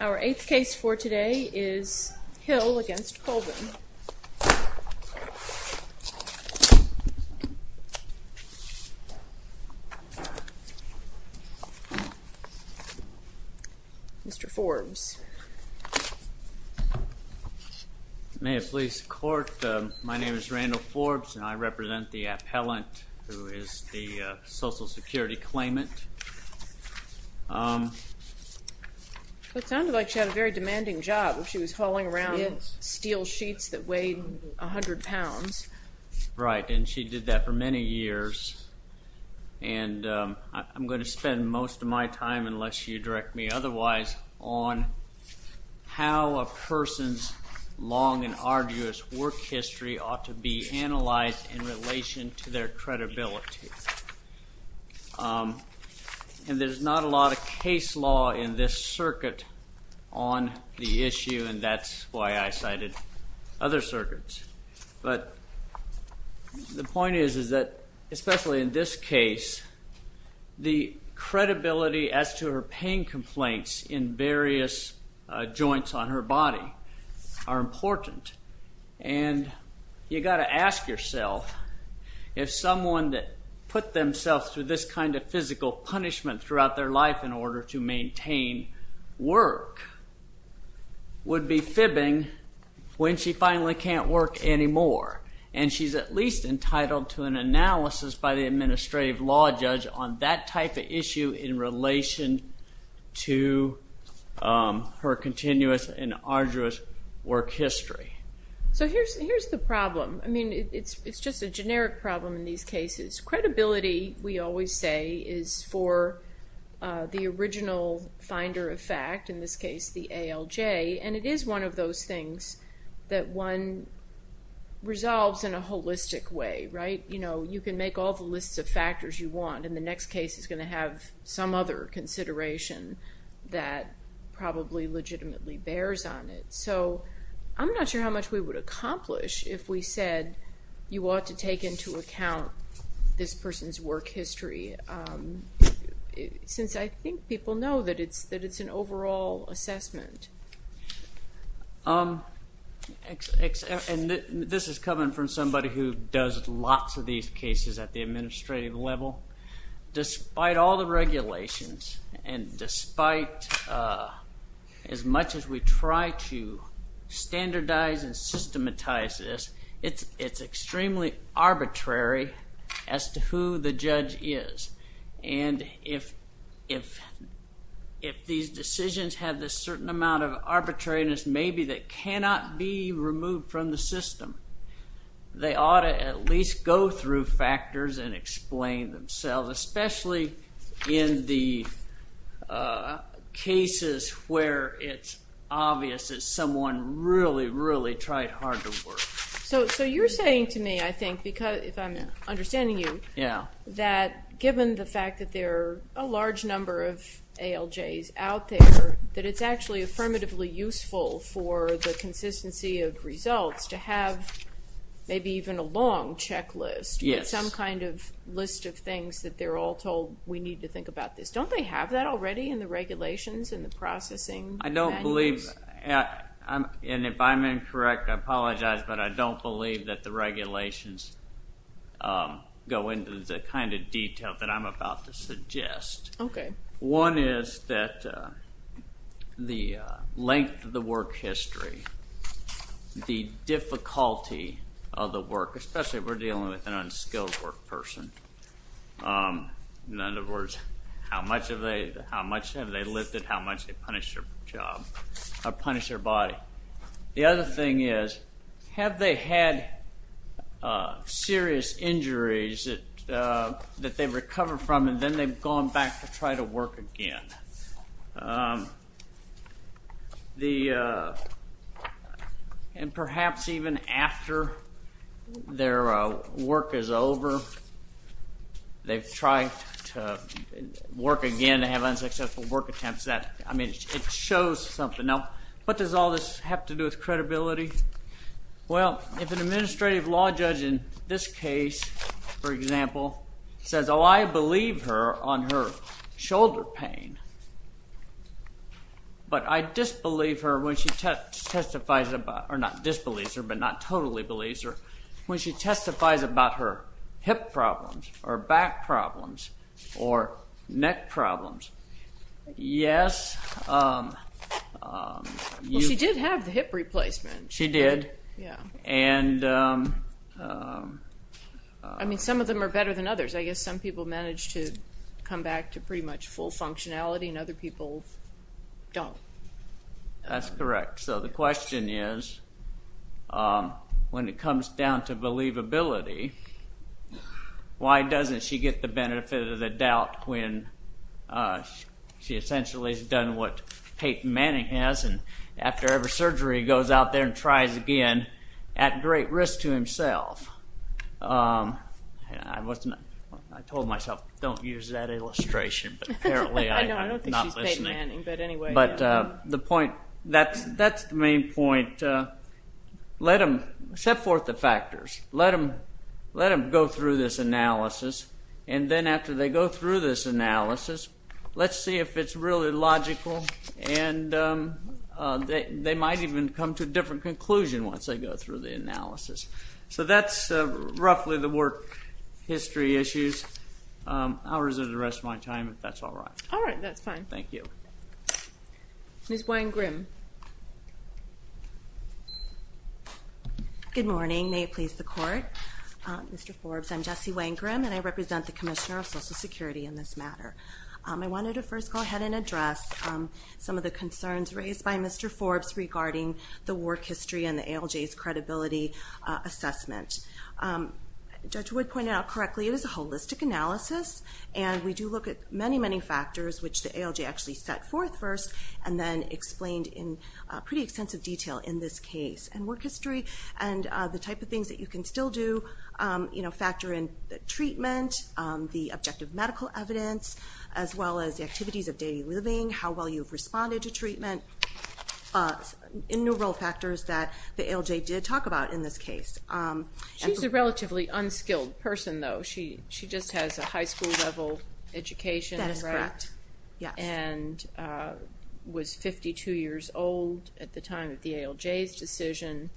Our eighth case for today is Hill against Colvin. Mr. Forbes. May it please the court, my name is Randall Forbes and I represent the appellant who is the It sounded like she had a very demanding job. She was hauling around steel sheets that weighed a hundred pounds. Right and she did that for many years and I'm going to spend most of my time, unless you direct me otherwise, on how a person's long and arduous work history ought to be analyzed in relation to their credibility and there's not a lot of case law in this circuit on the issue and that's why I cited other circuits but the point is is that especially in this case the credibility as to her pain complaints in various joints on her body are important and you got to ask yourself if someone that put themselves through this kind of physical punishment throughout their life in order to maintain work would be fibbing when she finally can't work anymore and she's at least entitled to an analysis by the administrative law judge on that type of in relation to her continuous and arduous work history. So here's the problem, I mean it's just a generic problem in these cases. Credibility we always say is for the original finder of fact, in this case the ALJ, and it is one of those things that one resolves in a holistic way, right? You know you can make all the lists of factors you want and the next case is going to have some other consideration that probably legitimately bears on it. So I'm not sure how much we would accomplish if we said you ought to take into account this person's work history since I think people know that it's that it's an overall assessment. And this is coming from somebody who does lots of these cases at the administrative level. Despite all the regulations and despite as much as we try to standardize and systematize this, it's extremely arbitrary as to who the judge is and if these decisions have this certain amount of arbitrariness maybe that cannot be removed from the system, they ought to at least go through factors and explain themselves, especially in the cases where it's obvious that someone really, really tried hard to work. So you're saying to me, I think, because if I'm understanding you, that given the fact that there are a large number of ALJs out there, that it's actually affirmatively useful for the consistency of results to have maybe even a long checklist with some kind of list of things that they're all told we need to think about this. Don't they have that already in the regulations and the processing? I don't believe, and if I'm incorrect I apologize, but I don't believe that the regulations go into the kind of detail that I'm about to suggest. One is that the length of the work history, the difficulty of the work, especially if we're dealing with an unskilled work person. In other words, how much have they lifted, how much they punish their job or punish their body. The other thing is, have they had serious injuries that they've recovered from and then they've gone back to try to work again. And perhaps even after their work is over, they've tried to work again and have unsuccessful work attempts. I mean, it shows something. Now, what does all this have to do with credibility? Well, if an administrative law judge in this case, for example, says, oh, I believe her on her shoulder pain, but I disbelieve her when she testifies about, or not disbelieves her, but not totally believes her, when she testifies about her hip problems or back problems or I mean, some of them are better than others. I guess some people manage to come back to pretty much full functionality and other people don't. That's correct. So the question is, when it comes down to believability, why doesn't she get the benefit of the doubt when she essentially has done what Peyton Manning has and after every surgery goes out there and tries again, at great risk to himself. I told myself, don't use that illustration, but apparently I'm not listening. I don't think she's Peyton Manning, but anyway. But the point, that's the main point. Let them set forth the factors. Let them go through this analysis and then after they go through this analysis, let's see if it's really logical and they might even come to a different conclusion once they go through the analysis. So that's roughly the work history issues. I'll reserve the rest of my time if that's all right. All right, that's fine. Thank you. Ms. Wang-Grimm. Good morning, may it please the court. Mr. Forbes, I'm Jessie Wang-Grimm and I represent the Commissioner of Social Security in this matter. I wanted to first go ahead and address some of the concerns raised by Mr. Forbes regarding the work history and the ALJ's credibility assessment. Judge Wood pointed out correctly, it is a holistic analysis and we do look at many, many factors which the ALJ actually set forth first and then explained in pretty extensive detail in this case. And work history and the type of things that you can still do, you know, factor in the treatment, the objective medical evidence, as well as the activities of daily living, how well you've responded to treatment, innumerable factors that the ALJ did talk about in this case. She's a relatively unskilled person though. She just has a high school level education. That is correct, yes. And was 52 years old at the time of the ALJ's decision.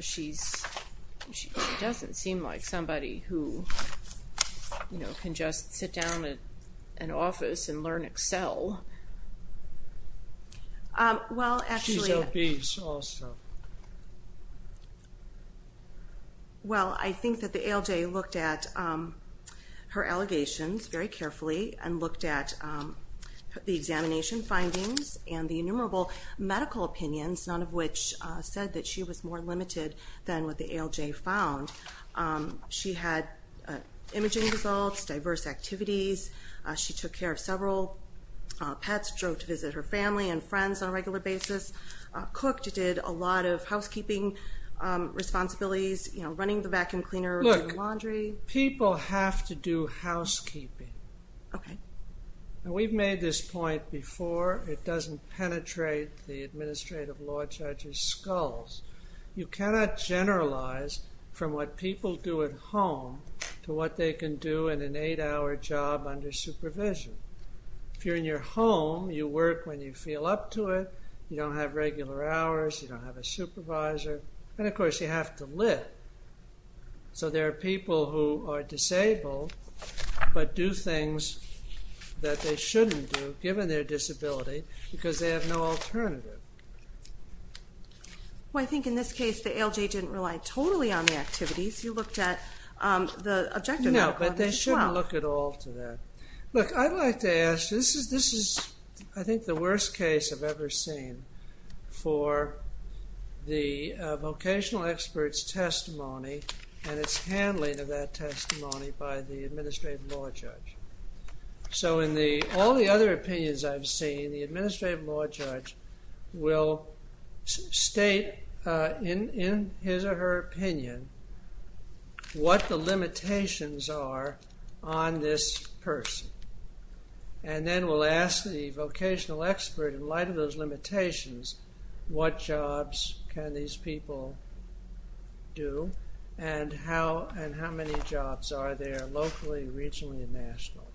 She doesn't seem like somebody who, you know, can just sit down at an office and learn Excel. She's obese also. Well, I think that the ALJ looked at her allegations very carefully and looked at the examination findings and the innumerable medical opinions, none of which said that she was more limited than what the ALJ found. She had imaging results, diverse activities. She took care of several pets, drove to visit her family and friends on a regular basis, cooked, did a lot of housekeeping responsibilities, you know, running the vacuum cleaner, doing laundry. Look, people have to do housekeeping. Okay. Now we've made this point before. It doesn't penetrate the administrative law judge's skulls. You cannot generalize from what people do at home to what they can do in an eight-hour job under supervision. If you're in your home, you work when you feel up to it, you don't have regular hours, you don't have a supervisor, and of course you have to live. So there are people who are disabled but do things that they shouldn't do given their disability because they have no alternative. Well, I think in this case the ALJ didn't rely totally on the activities. You looked at the objective. No, but they shouldn't look at all to that. Look, I'd like to ask, this is I think the worst case I've ever seen for the vocational experts testimony and its handling of that testimony by the administrative law judge. So in all the other opinions I've seen, the administrative law judge will state in his or her opinion what the limitations are on this person and then will ask the vocational expert, in light of those limitations, what jobs can these people do and how and how many jobs are there locally, regionally, and nationally.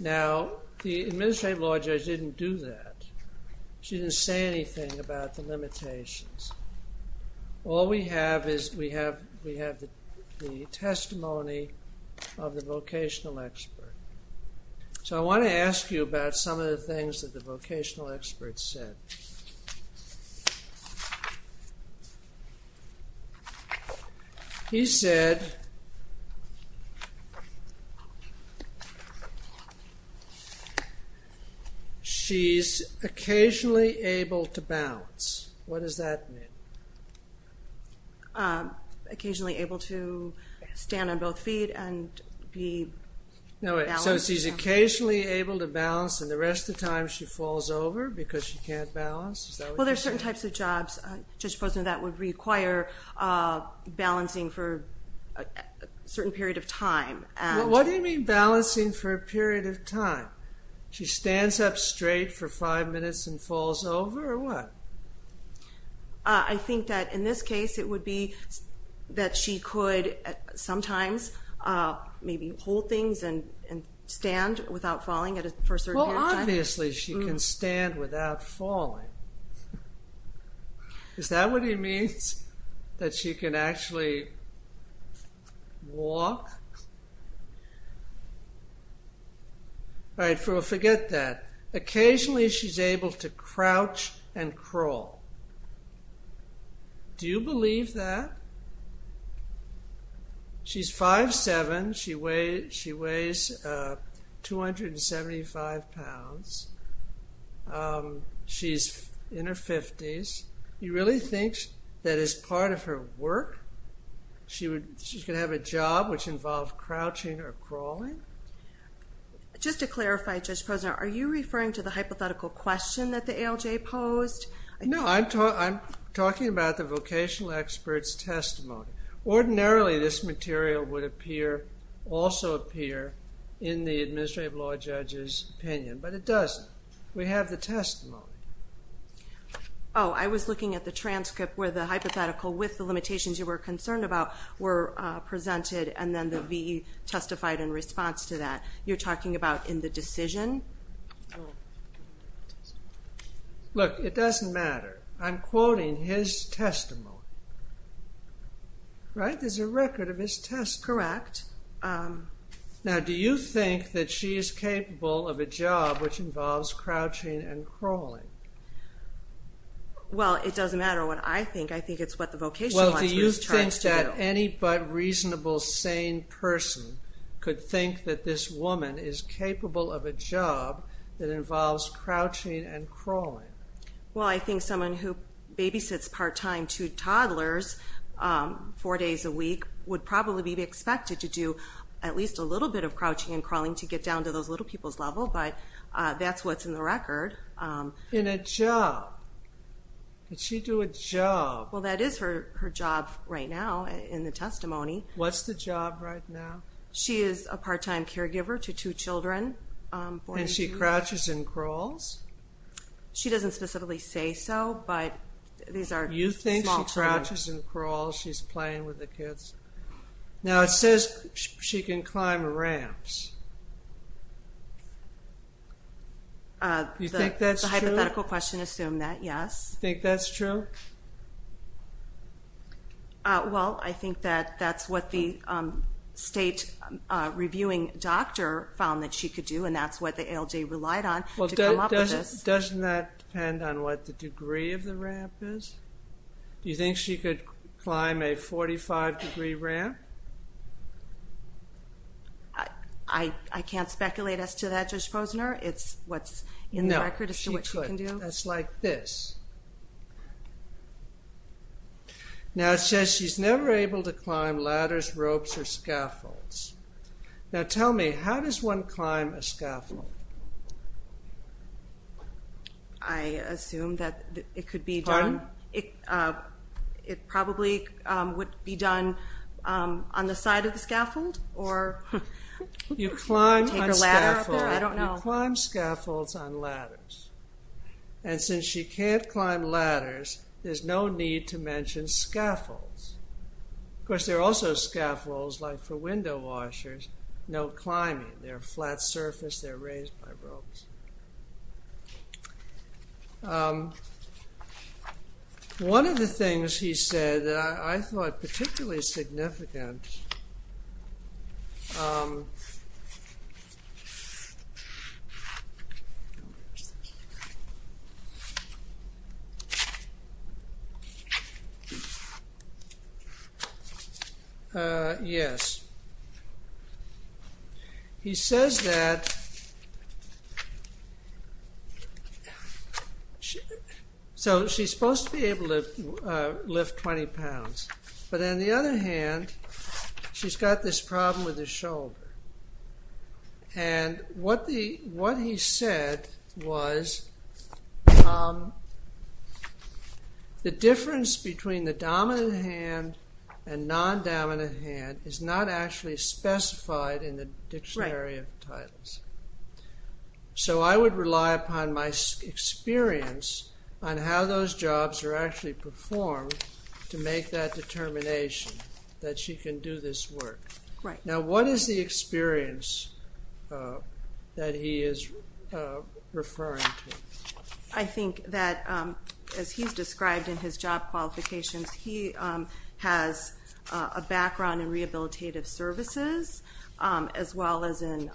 Now the administrative law judge didn't do that. She didn't say anything about the limitations. All we have is we have the testimony of the vocational expert. So I want to ask you about some of the things that the vocational experts said. He said she's occasionally able to bounce. What does that mean? Occasionally able to stand on both feet and be balanced. So she's occasionally able to bounce and the can't balance? Well there's certain types of jobs, Judge Posner, that would require balancing for a certain period of time. What do you mean balancing for a period of time? She stands up straight for five minutes and falls over or what? I think that in this case it would be that she could sometimes maybe hold things and stand without falling for a certain period of time. Well obviously she can stand without falling. Is that what he means? That she can actually walk? Forget that. Occasionally she's able to crouch and crawl. Do you believe that? She's 5'7". She weighs 275 pounds. She's in her 50s. You really think that is part of her work? She's going to have a job which involves crouching or crawling? Just to clarify, Judge Posner, are you referring to the hypothetical question that the ALJ posed? No, I'm talking about the vocational expert's testimony. Ordinarily this material would appear, also appear, in the Administrative Law Judge's opinion, but it doesn't. We have the testimony. Oh, I was looking at the transcript where the hypothetical with the limitations you were concerned about were presented and then the VE testified in response to that. You're talking about in the decision? Look, it is a record of his testimony. Right? There's a record of his testimony. Correct. Now do you think that she is capable of a job which involves crouching and crawling? Well, it doesn't matter what I think. I think it's what the vocational expert is charged to do. Well, do you think that any but reasonable, sane person could think that this woman is capable of a job that involves crouching and crawling? Well, I think someone who babysits part-time two toddlers four days a week would probably be expected to do at least a little bit of crouching and crawling to get down to those little people's level, but that's what's in the record. In a job? Did she do a job? Well, that is her job right now in the testimony. What's the job right now? She is a part-time caregiver to two children. And she doesn't specifically say so, but these are small children. You think she crouches and crawls? She's playing with the kids? Now, it says she can climb ramps. Do you think that's true? The hypothetical question assumed that, yes. Do you think that's true? Well, I think that that's what the state reviewing doctor found that she could do and that's what the ALJ relied on to come up with this. Doesn't that depend on what the degree of the ramp is? Do you think she could climb a 45 degree ramp? I can't speculate as to that, Judge Posner. It's what's in the record as to what she can do. No, she could. It's like this. Now, it says she's never able to climb ladders, ropes, or scaffolds. Now, tell me, how does one climb a scaffold? I assume that it probably would be done on the side of the scaffold? You climb scaffolds on ladders. And since she can't climb ladders, there's no need to mention scaffolds. Of course, there are also scaffolds, like for window washers, no climbing. They're a flat surface. They're raised by ropes. One of the things he said that I thought particularly significant, yes. He says that she's supposed to be able to lift 20 pounds, but on the other hand, she's got this problem with her shoulder. And what he said was the difference between the dominant hand and non-dominant hand is not actually specified in the dictionary of titles. So I would rely upon my experience on how those jobs are actually performed to make that determination that she can do this work. Now, what is the experience that he is referring to? I think that, as he's described in his job qualifications, he has a background in rehabilitative services, as well as in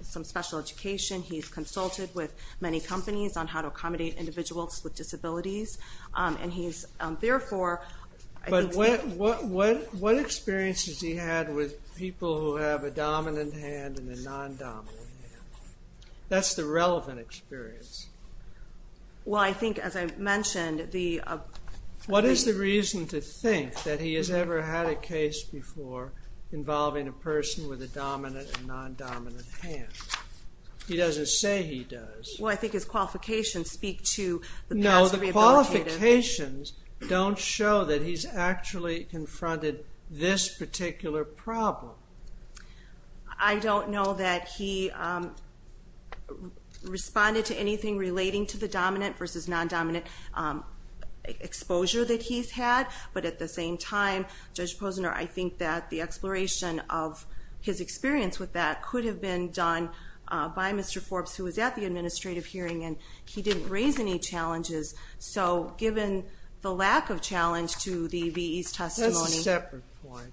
some special education. He's consulted with many companies on how to accommodate individuals with disabilities. But what experiences has he had with people who have a dominant hand and a non-dominant hand? That's the relevant experience. What is the reason to think that he has ever had a case before involving a person with a dominant and non-dominant hand? He doesn't say he does. Well, I think his qualifications speak to the past rehabilitative... No, the qualifications don't show that he's actually confronted this particular problem. I don't know that he responded to anything relating to the dominant versus non-dominant exposure that he's had. But at the same time, Judge Posner, I think that the exploration of his experience with that could have been done by Mr. Forbes, who was at the administrative hearing. And he didn't raise any challenges. So given the lack of challenge to the V.E.'s testimony... That's a separate point.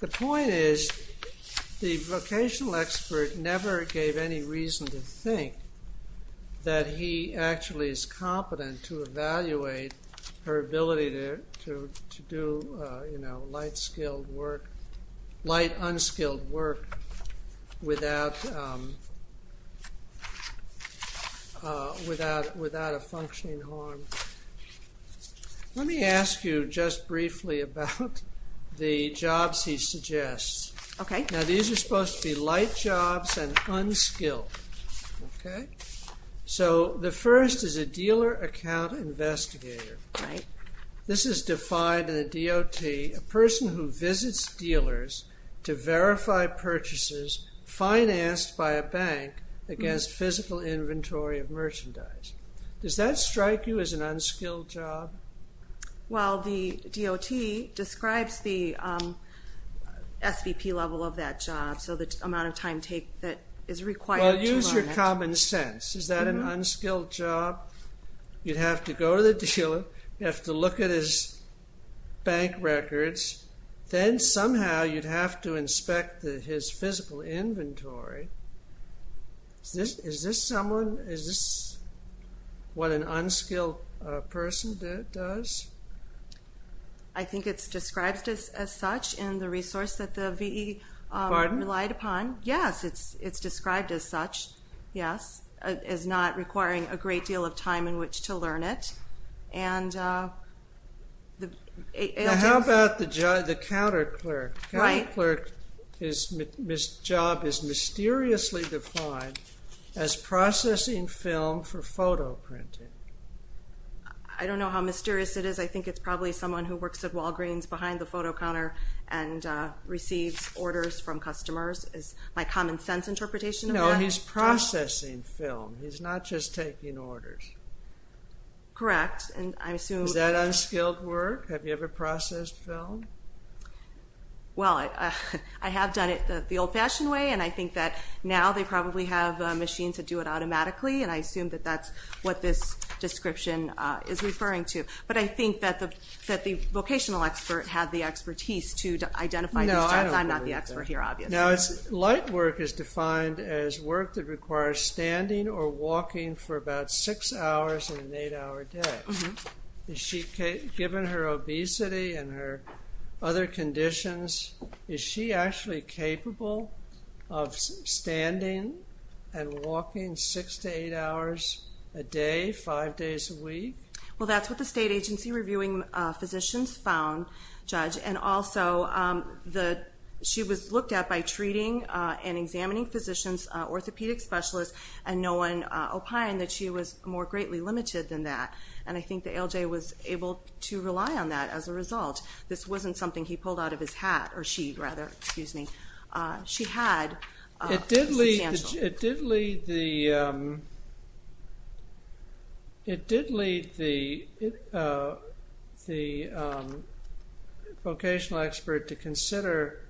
The point is, the vocational expert never gave any reason to think that he actually is competent to evaluate her ability to do light unskilled work without a functioning harm. Let me ask you just briefly about the jobs he suggests. Now, these are supposed to be light jobs and unskilled. So, the first is a dealer account investigator. This is defined in the D.O.T., a person who visits dealers to verify purchases financed by a bank against physical inventory of merchandise. Does that strike you as an unskilled job? Well, the D.O.T. describes the S.V.P. level of that job, so the amount of time taken that is required to learn it. Well, use your common sense. Is that an unskilled job? You'd have to go to the dealer, you'd have to look at his bank records, then somehow you'd have to inspect his physical inventory. Is this what an unskilled person does? I think it's described as such in the resource that the V.E. relied upon. Yes, it's described as such, yes. It's not requiring a great deal of time in which to learn it. Now, how about the counter clerk? The counter clerk's job is mysteriously defined as processing film for photo printing. I don't know how mysterious it is. I think it's probably someone who works at Walgreens behind the photo counter and receives orders from customers. Is my common sense interpretation of that? No, he's processing film. He's not just taking orders. Correct. Is that unskilled work? Have you ever processed film? Well, I have done it the old-fashioned way, and I think that now they probably have machines that do it automatically, and I assume that that's what this description is referring to. But I think that the vocational expert had the expertise to identify these jobs. I'm not the expert here, obviously. Now, light work is defined as work that requires standing or walking for about six hours in an eight-hour day. Given her obesity and her other conditions, is she actually capable of standing and walking six to eight hours a day, five days a week? Well, that's what the state agency reviewing physicians found, Judge. And also, she was looked at by treating and examining physicians, orthopedic specialists, and no one opined that she was more greatly limited than that. And I think the ALJ was able to rely on that as a result. This wasn't something he pulled out of his hat – or she, rather, excuse me. She had substantial… Judge, it did lead the vocational expert to consider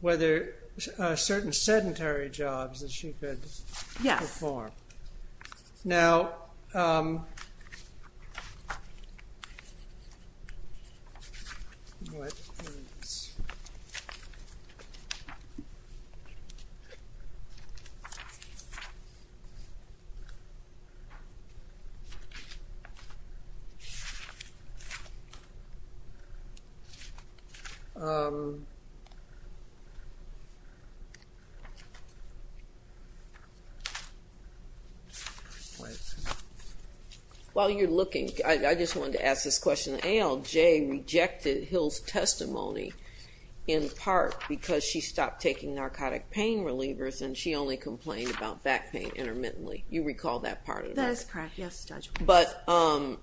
whether certain sedentary jobs that she could perform. Now… While you're looking, I just wanted to ask this question. The ALJ rejected Hill's testimony in part because she stopped taking narcotic pain relievers and she only complained about back pain intermittently. You recall that part of that? That is correct, yes, Judge. But the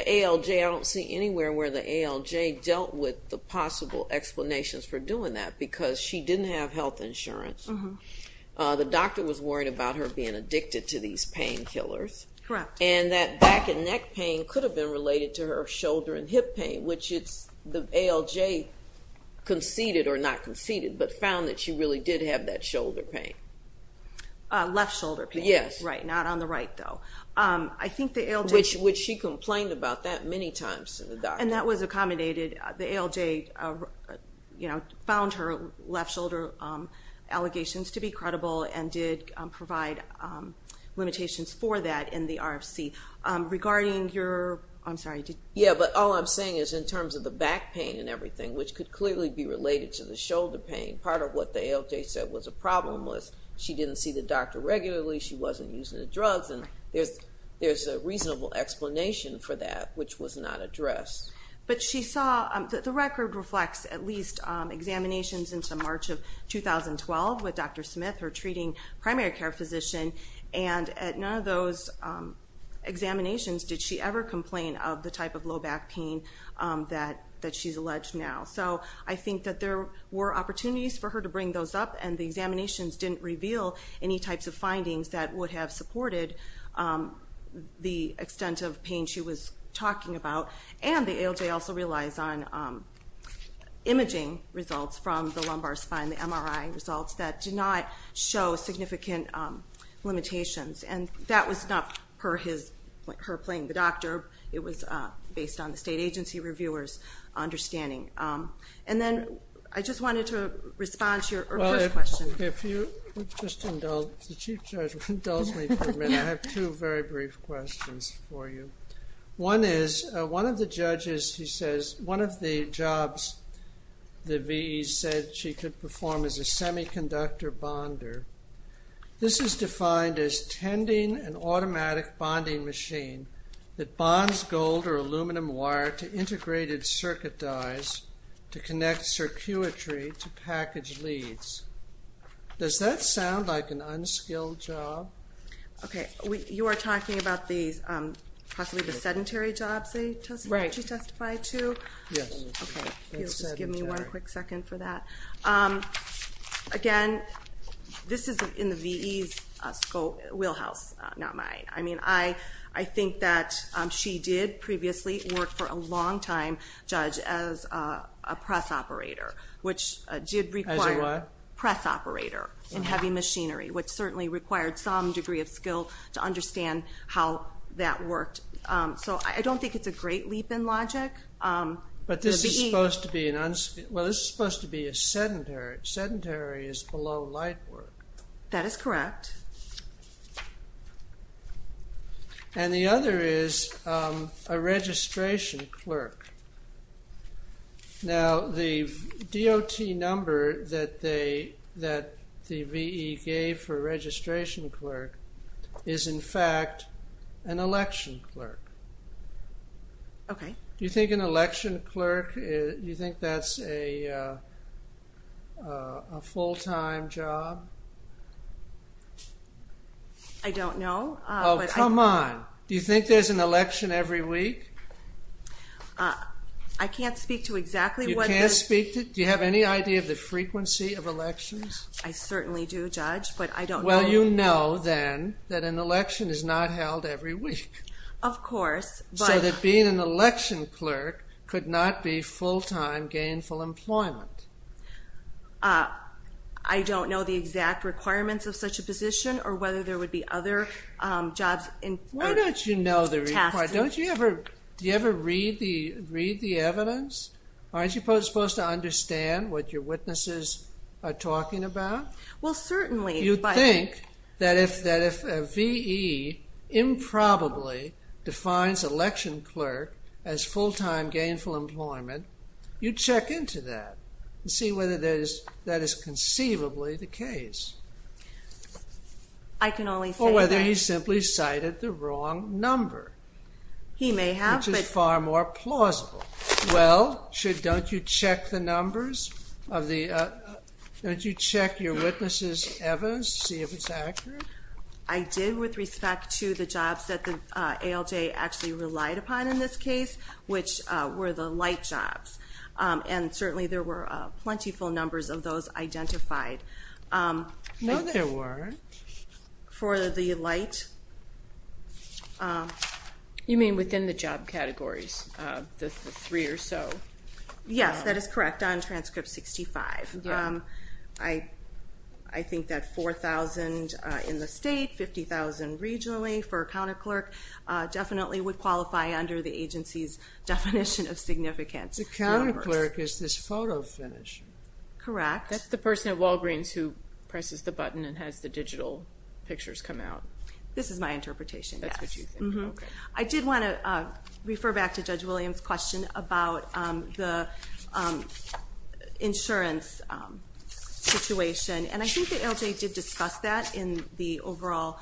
ALJ – I don't see anywhere where the ALJ dealt with the possible explanations for doing that because she didn't have health insurance. The doctor was worried about her being addicted to these painkillers. Correct. And that back and neck pain could have been related to her shoulder and hip pain, which the ALJ conceded – or not conceded, but found that she really did have that shoulder pain. Left shoulder pain. Yes. Right, not on the right, though. I think the ALJ… Which she complained about that many times to the doctor. And that was accommodated. The ALJ, you know, found her left shoulder allegations to be credible and did provide limitations for that in the RFC. Regarding your – I'm sorry. Yeah, but all I'm saying is in terms of the back pain and everything, which could clearly be related to the shoulder pain, part of what the ALJ said was a problem was she didn't see the doctor regularly, she wasn't using the drugs, and there's a reasonable explanation for that which was not addressed. But she saw – the record reflects at least examinations into March of 2012 with Dr. Smith, her treating primary care physician, and at none of those examinations did she ever complain of the type of low back pain that she's alleged now. So I think that there were opportunities for her to bring those up, and the examinations didn't reveal any types of findings that would have supported the extent of pain she was talking about. And the ALJ also relies on imaging results from the lumbar spine, the MRI results, that do not show significant limitations. And that was not her playing the doctor. It was based on the state agency reviewer's understanding. And then I just wanted to respond to your earlier question. Well, if you would just indulge – the Chief Judge indulged me for a minute. I have two very brief questions for you. One is, one of the judges, he says, one of the jobs the VE said she could perform is a semiconductor bonder. This is defined as tending an automatic bonding machine that bonds gold or aluminum wire to integrated circuit dies to connect circuitry to package leads. Does that sound like an unskilled job? Okay. You are talking about possibly the sedentary jobs that she testified to? Yes. Okay. Just give me one quick second for that. Again, this is in the VE's scope, Wheelhouse, not mine. I mean, I think that she did previously work for a longtime judge as a press operator, which did require – As a what? And heavy machinery, which certainly required some degree of skill to understand how that worked. So I don't think it's a great leap in logic. But this is supposed to be an – well, this is supposed to be a sedentary. Sedentary is below light work. That is correct. And the other is a registration clerk. Now, the DOT number that the VE gave for registration clerk is, in fact, an election clerk. Okay. Do you think an election clerk – do you think that's a full-time job? I don't know. Oh, come on. Do you think there's an election every week? I can't speak to exactly what – You can't speak to – do you have any idea of the frequency of elections? I certainly do, Judge, but I don't know. Well, you know, then, that an election is not held every week. Of course, but – So that being an election clerk could not be full-time gainful employment. I don't know the exact requirements of such a position or whether there would be other jobs in – Why don't you know the requirements? Don't you ever – do you ever read the evidence? Aren't you supposed to understand what your witnesses are talking about? Well, certainly, but – You think that if a VE improbably defines election clerk as full-time gainful employment, you'd check into that and see whether that is conceivably the case. I can only say that. Or whether he simply cited the wrong number. He may have, but – Which is far more plausible. Well, don't you check the numbers of the – don't you check your witnesses' evidence to see if it's accurate? I did with respect to the jobs that the ALJ actually relied upon in this case, which were the light jobs. And certainly, there were plentiful numbers of those identified. No, there weren't. For the light – You mean within the job categories, the three or so? Yes, that is correct, on transcript 65. I think that 4,000 in the state, 50,000 regionally for a counterclerk, definitely would qualify under the agency's definition of significance. The counterclerk is this photo finish. Correct. That's the person at Walgreens who presses the button and has the digital pictures come out. This is my interpretation, yes. That's what you think, okay. I did want to refer back to Judge Williams' question about the insurance situation. And I think the ALJ did discuss that in the overall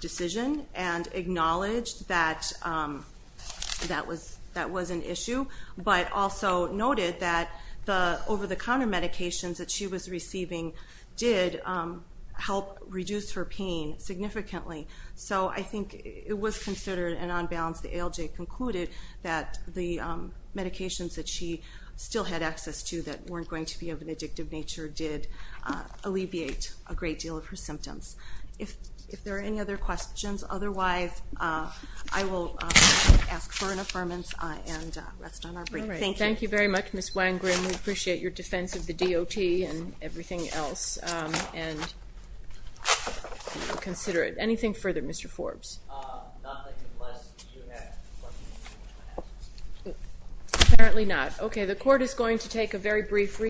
decision and acknowledged that that was an issue, but also noted that the over-the-counter medications that she was receiving did help reduce her pain significantly. So I think it was considered and on balance the ALJ concluded that the medications that she still had access to that weren't going to be of an addictive nature did alleviate a great deal of her symptoms. If there are any other questions, otherwise I will ask for an affirmance and rest on our brief. Thank you. Thank you very much, Ms. Wang-Grimm. We appreciate your defense of the DOT and everything else, and we'll consider it. Anything further, Mr. Forbes? Nothing unless you have questions. Apparently not. Okay, the court is going to take a very brief recess.